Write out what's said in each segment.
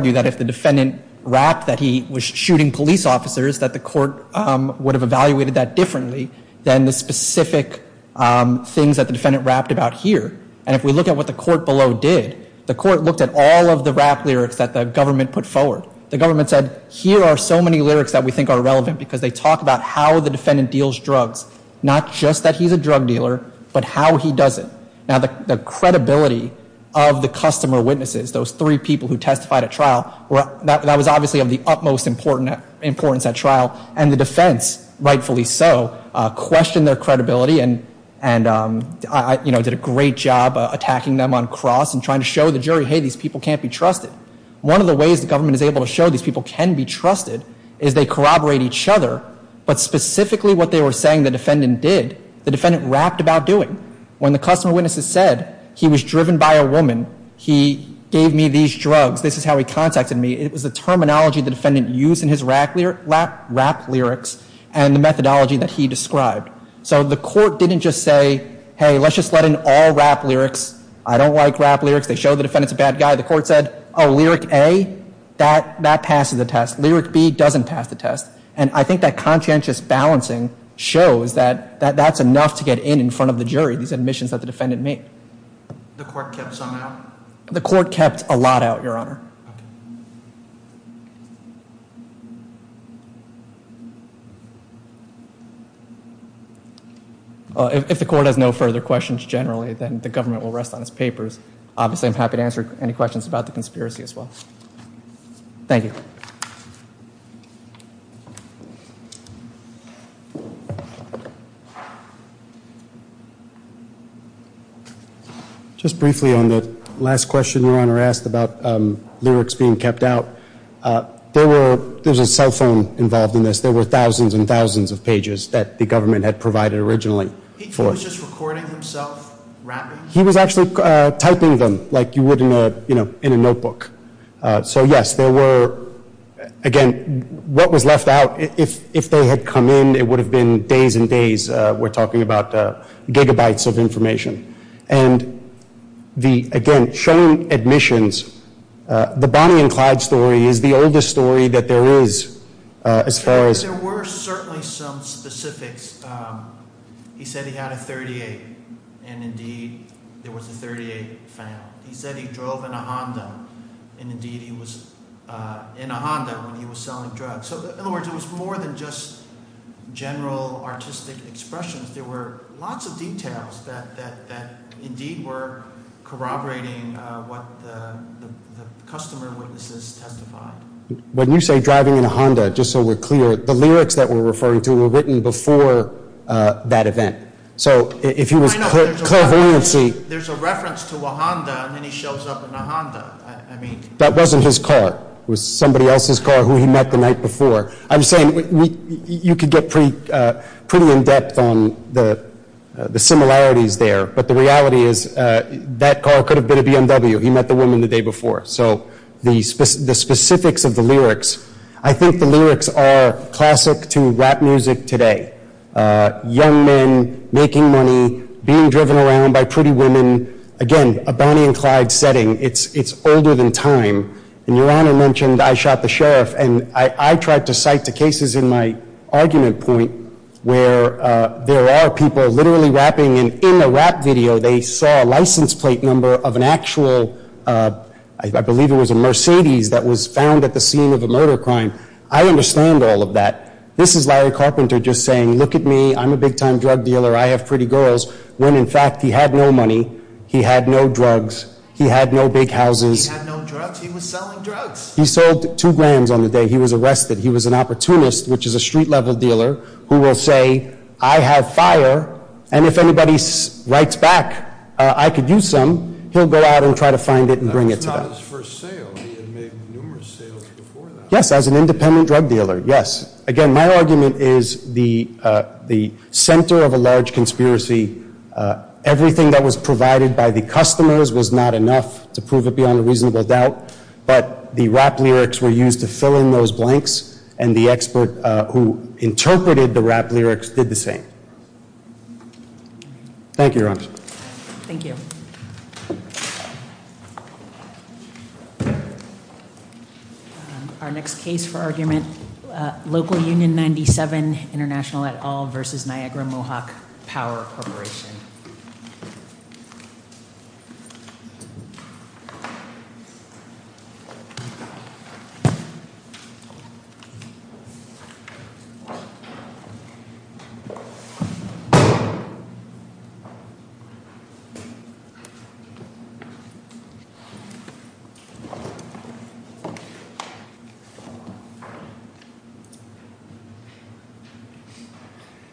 that if the defendant rapped that he was shooting police officers that the court would have evaluated that differently than the specific things that the defendant rapped about here. And if we look at what the court below did, the court looked at all of the rap lyrics that the government put forward. The government said here are so many lyrics that we think are relevant because they talk about how the defendant deals drugs, not just that he's a drug dealer, but how he does it. Now the credibility of the customer witnesses, those three people who testified at trial, well that was obviously of the utmost important importance at trial. And the defense, rightfully so, questioned their credibility and and I, you know, did a great job attacking them on cross and trying to show the jury, hey these people can't be trusted. One of the ways the government is able to show these people can be trusted is they corroborate each other, but specifically what they were saying the defendant did, the defendant rapped about doing. When the customer witnesses said he was driven by a woman, he gave me these drugs, this is how he contacted me. It was the terminology the defendant used in his rap lyrics and the methodology that he described. So the court didn't just say, hey let's just let in all rap lyrics. I don't like rap lyrics. They show the defendant's a bad guy. The court said, oh lyric A, that passes the test. Lyric B doesn't pass the test. And I think that conscientious balancing shows that that's enough to get in in front of the The court kept a lot out, your honor. If the court has no further questions generally, then the government will rest on its papers. Obviously I'm happy to answer any questions about the conspiracy as well. Thank you. Just briefly on the last question your honor asked about lyrics being kept out, there were, there's a cell phone involved in this, there were thousands and thousands of pages that the government had provided originally. He was just recording himself rapping? He was actually typing them like you would in a, you know, in a notebook. So yes, there were, again, what was left out, if they had come in, it would have been days and days. We're talking about gigabytes of information. And the, again, showing admissions, the Bonnie and Clyde story is the oldest story that there is as far as... There were certainly some specifics. He said he had a 38, and indeed there was a 38 found. He said he drove in a Honda, and indeed he was in a Honda when he was selling drugs. So in other words, it was more than just general artistic expressions. There were lots of details that indeed were corroborating what the customer witnesses testified. When you say driving in a Honda, just so we're clear, the If he was clairvoyancy... There's a reference to a Honda, and then he shows up in a Honda, I mean... That wasn't his car. It was somebody else's car who he met the night before. I'm saying, you could get pretty in-depth on the similarities there, but the reality is that car could have been a BMW. He met the woman the day before. So the specifics of the lyrics, I think the lyrics are classic to rap music today. Young men making money, being driven around by pretty women. Again, a Bonnie and Clyde setting. It's older than time, and Your Honor mentioned I shot the sheriff, and I tried to cite the cases in my argument point where there are people literally rapping, and in the rap video, they saw a license plate number of an actual... I believe it was a Mercedes that was found at the scene of a murder crime. I understand all of that. This is Larry Carpenter just saying, look at me. I'm a big-time drug dealer. I have pretty girls, when in fact, he had no money. He had no drugs. He had no big houses. He had no drugs. He was selling drugs. He sold two grand on the day he was arrested. He was an opportunist, which is a street-level dealer, who will say, I have fire, and if anybody writes back, I could use some. He'll go out and try to find it and bring it to them. That's not his first sale. He had made numerous sales before that. Yes, as an independent drug dealer, yes. Again, my argument is the center of a large conspiracy, everything that was provided by the customers was not enough to prove it beyond a reasonable doubt, but the rap lyrics were used to fill in those blanks, and the expert who interpreted the rap lyrics did the same. Thank you, Your Honor. Thank you. Thank you. Our next case for argument, Local Union 97 International et al. v. Niagara Mohawk Power Corporation. Thank you.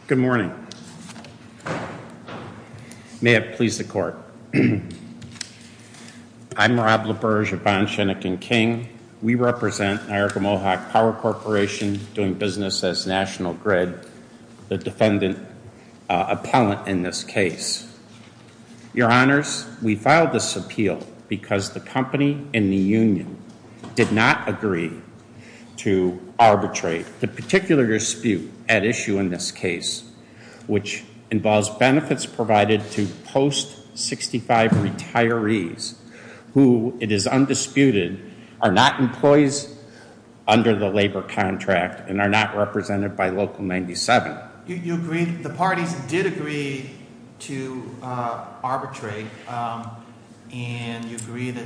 Good morning. May it please the Court. I'm Rob LaBerge of Von Schoenecken King. We represent Niagara Mohawk Power Corporation, doing business as National Grid, the defendant appellant in this case. Your Honors, we filed this appeal because the company and the union did not agree to arbitrate the particular dispute at issue in this case, which involves benefits provided to post-65 retirees who, it is undisputed, are not employees under the labor contract and are not represented by Local 97. You agree, the parties did agree to arbitrate, and you agree that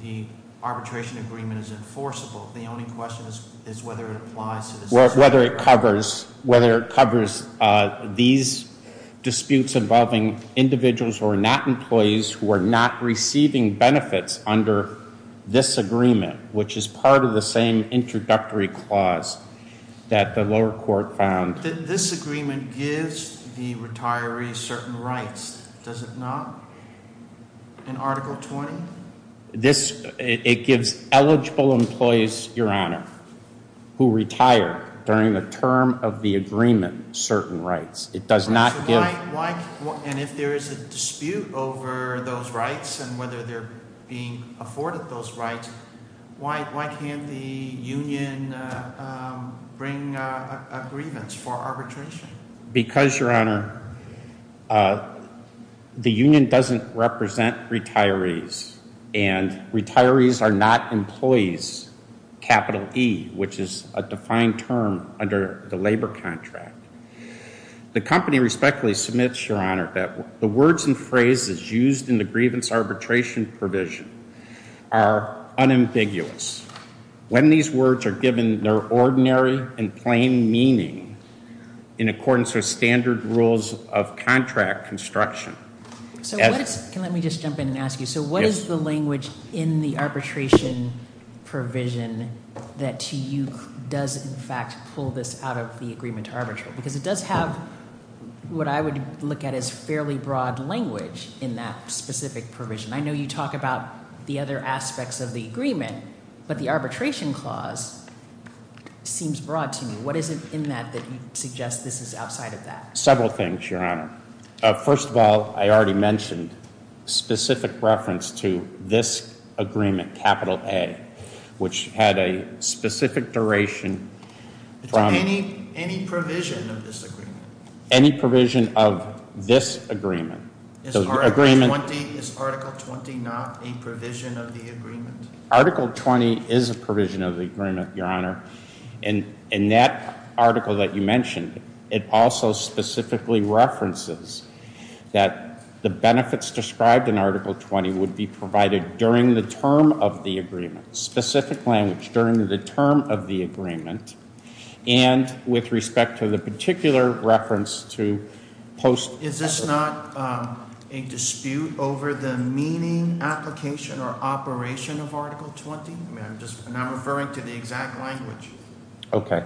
the arbitration agreement is enforceable. The only question is whether it applies to this case. Whether it covers these disputes involving individuals who are not employees, who are not receiving benefits under this agreement, which is part of the same introductory clause that the lower court found. But this agreement gives the retirees certain rights, does it not? In Article 20? This, it gives eligible employees, Your Honor, who retire during the term of the agreement certain rights. It does not give... So why, and if there is a dispute over those rights and whether they're being afforded those rights, why can't the union bring a grievance for arbitration? Because, Your Honor, the union doesn't represent retirees and retirees are not employees, capital E, which is a defined term under the labor contract. The company respectfully submits, Your Honor, that the words and phrases used in the grievance arbitration provision are unambiguous. When these words are given their ordinary and plain meaning in accordance with standard rules of contract construction... So let me just jump in and ask you. So what is the language in the arbitration provision that to you does, in fact, pull this out of the agreement to arbitrate? Because it does have what I would look at as fairly broad language in that specific provision. I know you talk about the other aspects of the agreement, but the arbitration clause seems broad to me. What is it in that that you suggest this is outside of that? Several things, Your Honor. First of all, I already mentioned specific reference to this agreement, capital A, which had a specific duration from... Any provision of this agreement. Any provision of this agreement. Is Article 20 not a provision of the agreement? Article 20 is a provision of the agreement, Your Honor. In that article that you mentioned, it also specifically references that the benefits described in Article 20 would be provided during the term of the agreement, specific language during the term of the agreement, and with respect to the particular reference to post... Is this not a dispute over the meaning, application, or operation of Article 20? And I'm referring to the exact language. Okay.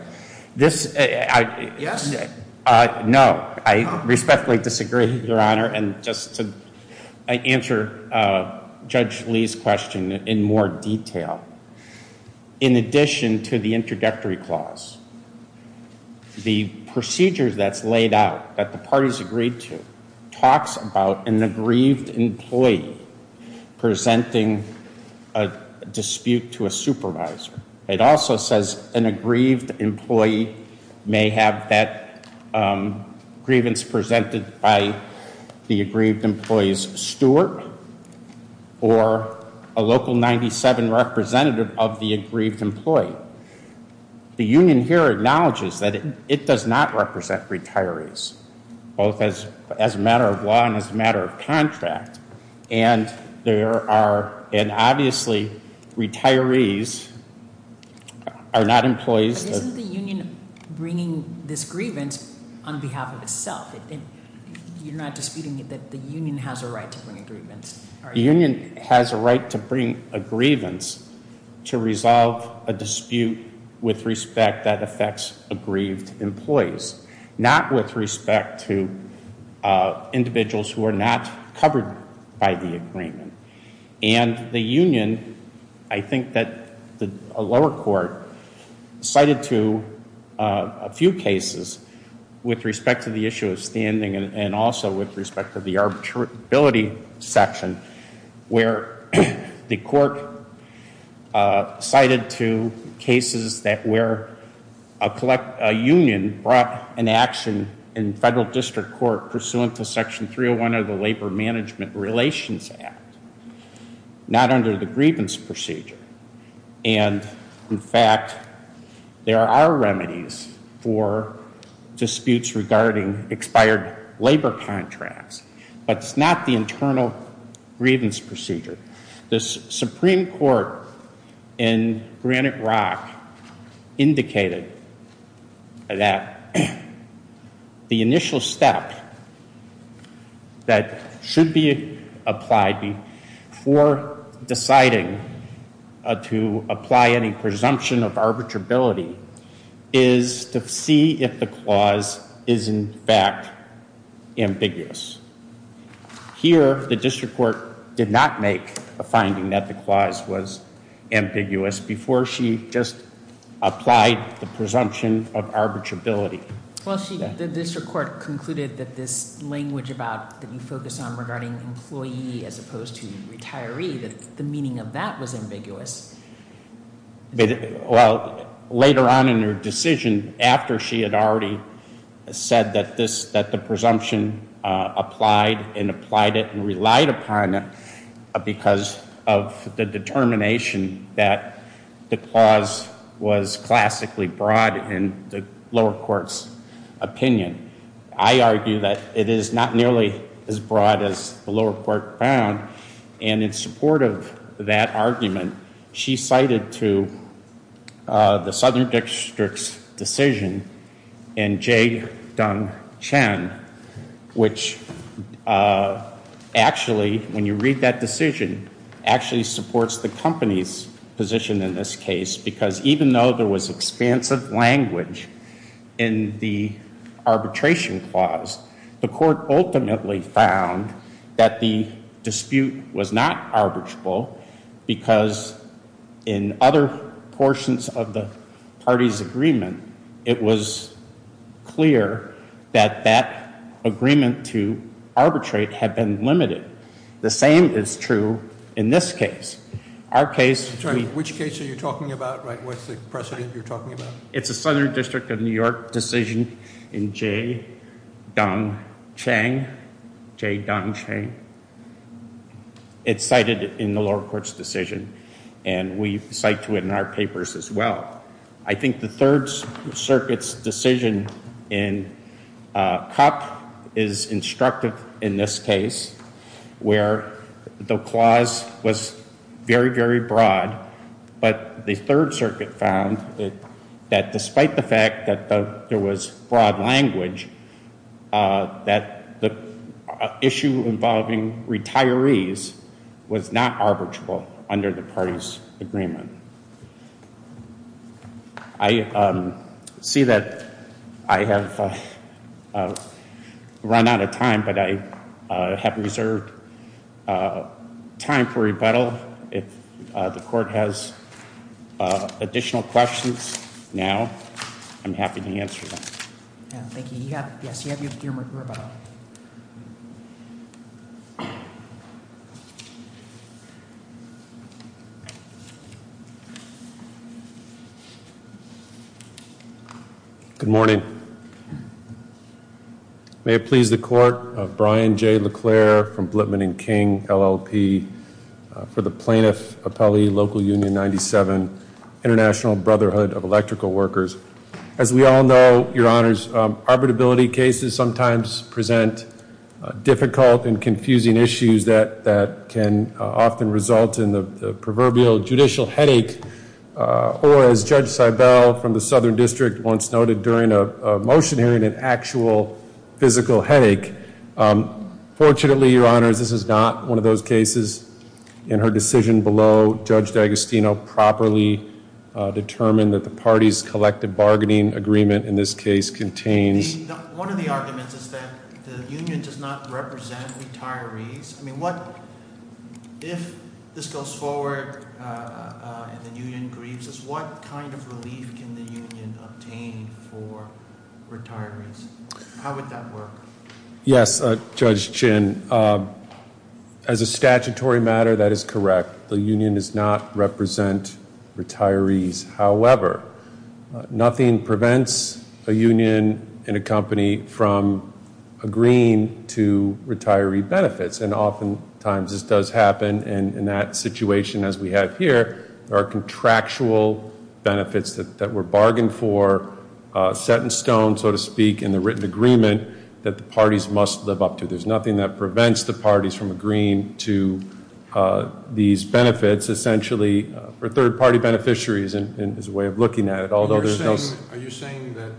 This... Yes? No. I respectfully disagree, Your Honor. And just to answer Judge Lee's question in more detail, in addition to the introductory clause, the procedure that's laid out that the parties agreed to talks about an aggrieved employee presenting a dispute to a supervisor. It also says an aggrieved employee may have that, um, grievance presented by the aggrieved employee's steward or a local 97 representative of the aggrieved employee. The union here acknowledges that it does not represent retirees, both as a matter of law and as a matter of contract. And there are... And obviously, retirees are not employees... But isn't the union bringing this grievance on behalf of itself? You're not disputing that the union has a right to bring a grievance, are you? The union has a right to bring a grievance to resolve a dispute with respect that affects aggrieved employees, not with respect to individuals who are not covered by the agreement. And the union, I think that the lower court cited to a few cases with respect to the issue of standing and also with respect to the arbitrability section, where the court cited to cases that where a union brought an action in federal district court pursuant to Section 301 of the Labor Management Relations Act, not under the grievance procedure. And, in fact, there are remedies for disputes regarding expired labor contracts. But it's not the internal grievance procedure. The Supreme Court in Granite Rock indicated that the initial step that should be applied before deciding to apply any presumption of arbitrability is to see if the clause is, in fact, ambiguous. Here, the district court did not make a finding that the clause was ambiguous before she just applied the presumption of arbitrability. The district court concluded that this language that you focus on regarding employee as opposed to retiree, that the meaning of that was ambiguous. Later on in her decision, after she had already said that the presumption applied and applied it and relied upon it because of the determination that the clause was classically broad in the lower court's opinion, I argue that it is not nearly as broad as the lower court found. And in support of that argument, she cited to the Southern District's decision in J. Deng Chen, which actually, when you read that decision, actually supports the company's position in this case because even though there was expansive language in the arbitration clause, the court ultimately found that the dispute was not arbitrable because in other portions of the party's agreement, it was clear that that agreement to arbitrate had been limited. The same is true in this case. Our case... Which case are you talking about? What's the precedent you're talking about? It's the Southern District of New York decision in J. Deng Chen. J. Deng Chen. It's cited in the lower court's decision and we cite to it in our papers as well. I think the Third Circuit's decision in Kopp is instructive in this case where the clause was very, very broad but the Third Circuit found that despite the fact that there was broad language, that the issue involving retirees was not arbitrable under the party's agreement. I see that but I have reserved time for rebuttal If the court has additional questions now, I'm happy to answer them. Good morning. May it please the court of Brian J. LeClair from Blipman & King, LLP for the Plaintiff Appellee Local Union 97 International Brotherhood of Electrical Workers As we all know, Your Honors, arbitrability cases sometimes present difficult and confusing issues that can often result in the proverbial judicial headache or as Judge Seibel from the Southern District once noted during a motion hearing an actual physical headache. Fortunately, Your Honors, this is not one of those cases In her decision below, Judge D'Agostino properly determined that the party's collective bargaining agreement in this case contains One of the arguments is that the union does not represent retirees. If this goes forward and the union grieves us, what kind of relief can the union obtain for retirees? How would that work? Judge Chin, as a statutory matter that is correct. The union does not represent retirees. However, nothing prevents a union and a company from agreeing to retiree benefits and often times this does happen and in that situation as we have here there are contractual benefits that were bargained for, set in stone so to speak in the written agreement that the parties must live up to There's nothing that prevents the parties from agreeing to these benefits essentially for third party beneficiaries is a way of looking at it Are you saying that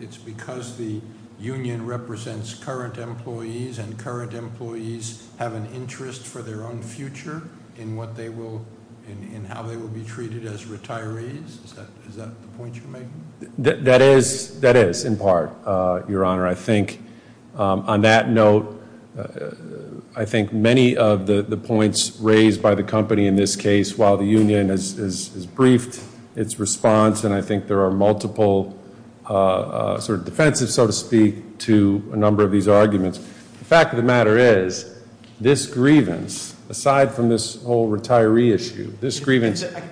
it's because the union represents current employees and current employees have an interest for their own future in what they will be treated as retirees? That is in part your honor. I think on that note I think many of the points raised by the company in this case while the union has briefed its response and I think there are multiple sort of defensive so to speak to a number of these arguments The fact of the matter is this grievance aside from this whole retiree issue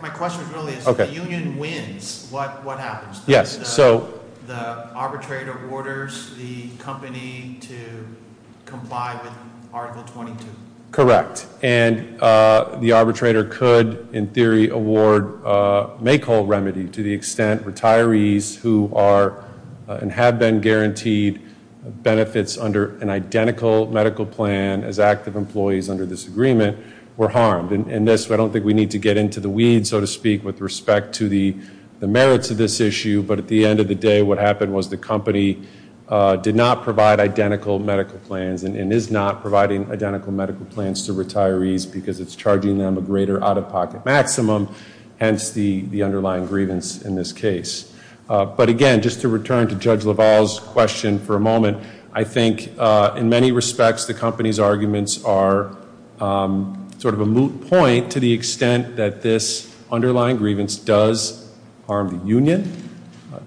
My question really is if the union wins what happens? The arbitrator orders the company to comply with article 22? Correct and the arbitrator could in theory award make whole remedy to the extent retirees who are and have been provided an identical medical plan as active employees under this agreement were harmed and I don't think we need to get into the weeds so to speak with respect to the merits of this issue but at the end of the day what happened was the company did not provide identical medical plans and is not providing identical medical plans to retirees because it's charging them a greater out of pocket maximum hence the underlying grievance in this case. But again just to return to in many respects the company's arguments are sort of a moot point to the extent that this underlying grievance does harm the union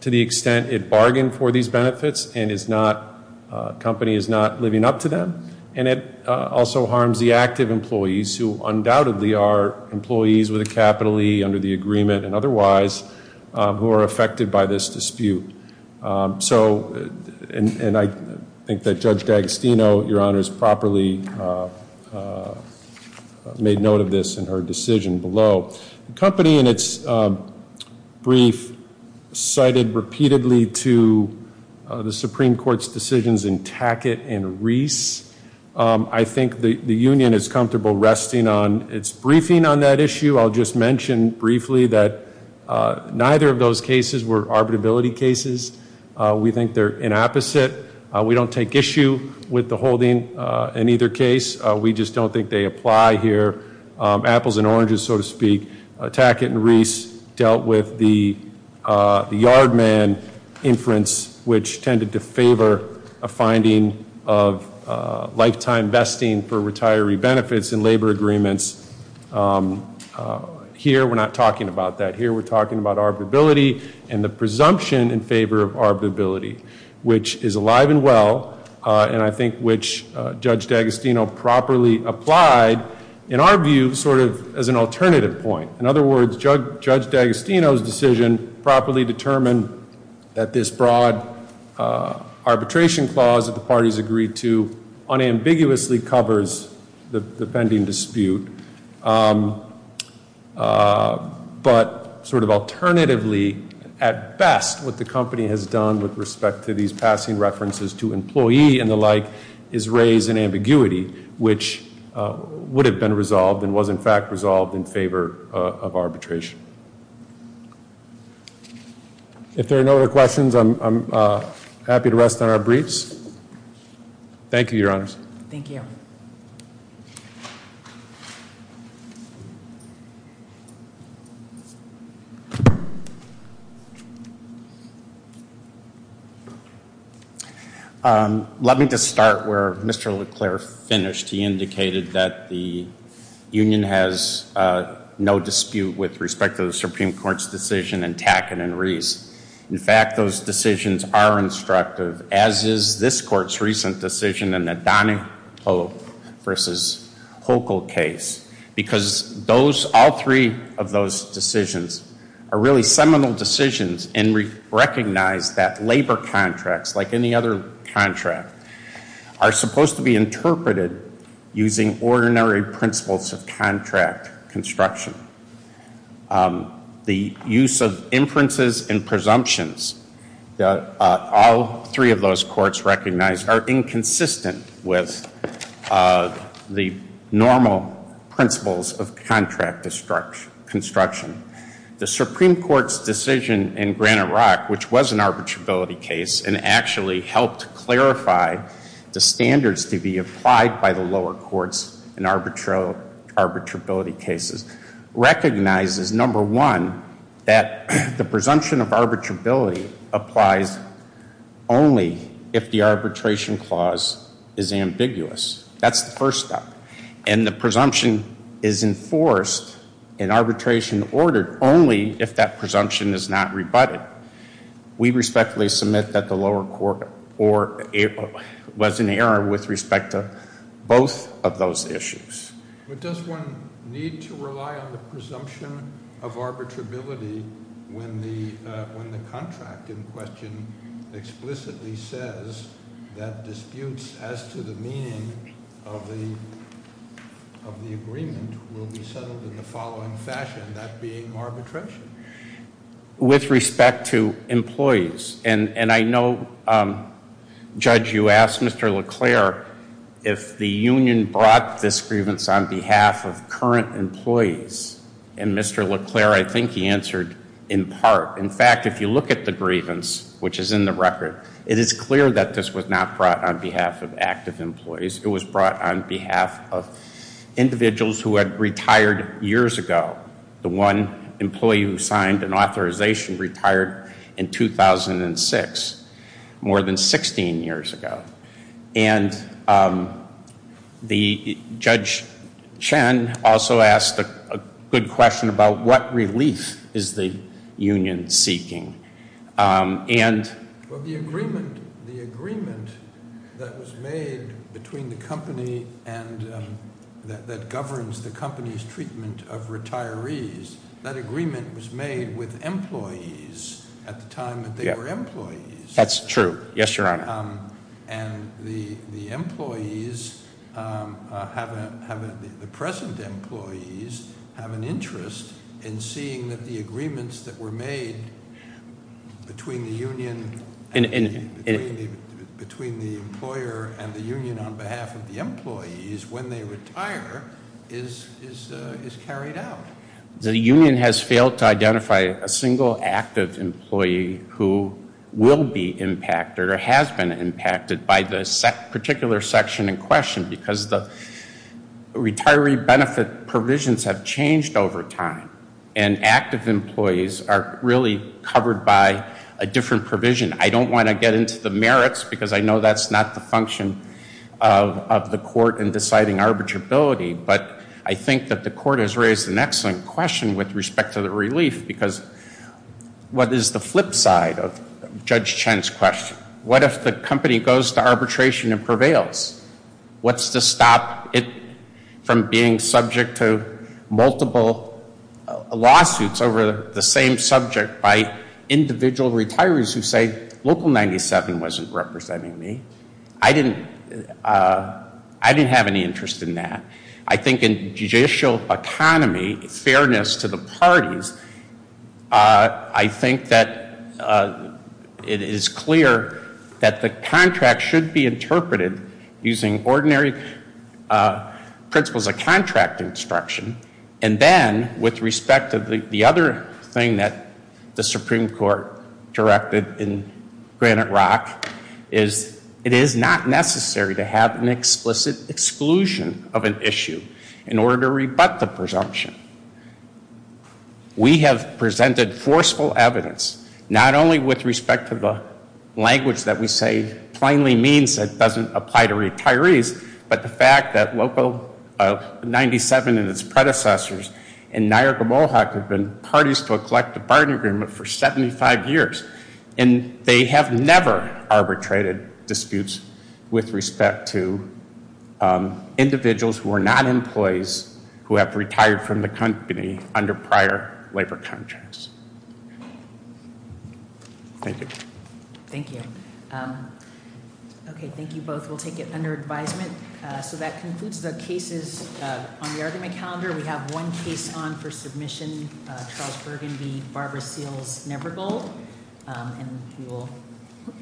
to the extent it bargained for these benefits and is not, company is not living up to them and it also harms the active employees who undoubtedly are employees with a capital E under the agreement and otherwise who are affected by this dispute so and I think that Judge D'Agostino, your honors, properly made note of this in her decision below. The company in its brief cited repeatedly to the Supreme Court's decisions in Tackett and Reese. I think the union is comfortable resting on its briefing on that issue. I'll just mention briefly that neither of those cases were arbitrability cases we think they're inapposite. We don't take issue with the holding in either case. We just don't think they apply here. Apples and oranges so to speak. Tackett and Reese dealt with the yard man inference which tended to favor a finding of lifetime vesting for retiree benefits in labor agreements. Here we're not talking about that. Here we're talking about arbitrability and the presumption in favor of arbitrability which is alive and well and I think which Judge D'Agostino properly applied in our view sort of as an alternative point. In other words, Judge D'Agostino's decision properly determined that this broad arbitration clause that the parties agreed to unambiguously covers the pending dispute but sort of alternatively at best what the company has done with respect to these passing references to employee and the like is raise an ambiguity which would have been resolved and was in fact resolved in favor of arbitration. If there are no other questions I'm happy to rest on our briefs. Thank you, Your Honors. Let me just start where Mr. LeClair finished. He indicated that the union has no dispute with respect to the Supreme Court's decision in Tackett and Reese. In fact, those decisions are instructive as is this court's recent decision in the Donahue versus Hochul case because all three of those decisions are really seminal decisions and recognize that labor contracts like any other contract are supposed to be interpreted using ordinary principles of contract construction. The use of inferences and presumptions all three of those courts recognize are inconsistent with the normal principles of contract construction. The Supreme Court's decision in Granite Rock which was an arbitrability case and actually helped clarify the standards to be applied by the lower courts in arbitrability cases recognizes number one that the presumption of arbitrability applies only if the arbitration clause is ambiguous. That's the first step. And the presumption is enforced in arbitration order only if that presumption is not rebutted. We respectfully submit that the lower court was in error with respect to both of those issues. But does one need to rely on the presumption of arbitrability when the contract in question explicitly says that disputes as to the meaning of the agreement will be settled in the following fashion, that being arbitration. With respect to employees and I know Judge you asked Mr. LeClair if the union brought this grievance on behalf of current employees and Mr. LeClair I think he answered in part. In fact, if you look at the grievance which is in the record, it is clear that this was not brought on behalf of active employees. It was brought on behalf of individuals who had retired years ago. The one employee who signed an authorization retired in 2006 more than 16 years ago. And the Judge Chen also asked a good question about what relief is the union seeking. The agreement that was made between the company that governs the company's treatment of retirees, that agreement was made with employees at the time that they were employees. That's true. Yes, Your Honor. And the employees the present employees have an interest in seeing that the agreements that were made between the union between the employer and the union on behalf of the employees when they retire is carried out. The union has failed to identify a single active employee who will be impacted or has been impacted by the particular section in question because the retiree benefit provisions have changed over time. And active employees are really covered by a different provision. I don't want to get into the merits because I know that's not the function of the court in deciding arbitrability. But I think that the court has raised an excellent question with respect to the relief because what is the flip side of Judge Chen's question? What if the company goes to arbitration and prevails? What's to stop it from being subject to multiple lawsuits over the same subject by individual retirees who say Local 97 wasn't representing me. I didn't have any interest in that. I think in judicial economy fairness to the parties I think that it is clear that the contract should be interpreted using ordinary principles of contract instruction. And then with respect to the other thing that the Supreme Court directed in Granite Rock is it is not necessary to have an explicit exclusion of an issue in order to rebut the presumption. We have presented forceful evidence not only with respect to the language that we say plainly means that doesn't apply to retirees, but the fact that Local 97 and its predecessors in Niagara-Mohawk have been parties to a collective bargaining agreement for 75 years. And they have never arbitrated disputes with respect to individuals who are not employees who have retired from the company under prior labor contracts. Thank you. Okay, thank you both. We'll take it under advisement. So that concludes the cases on the argument calendar. We have one case on for submission Charles Bergen v. Barbara Seals Nevergold And we will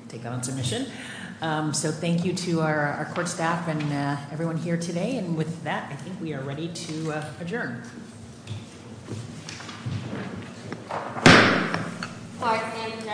take that on submission. So thank you to our court staff and everyone here today. And with that I think we are ready to adjourn.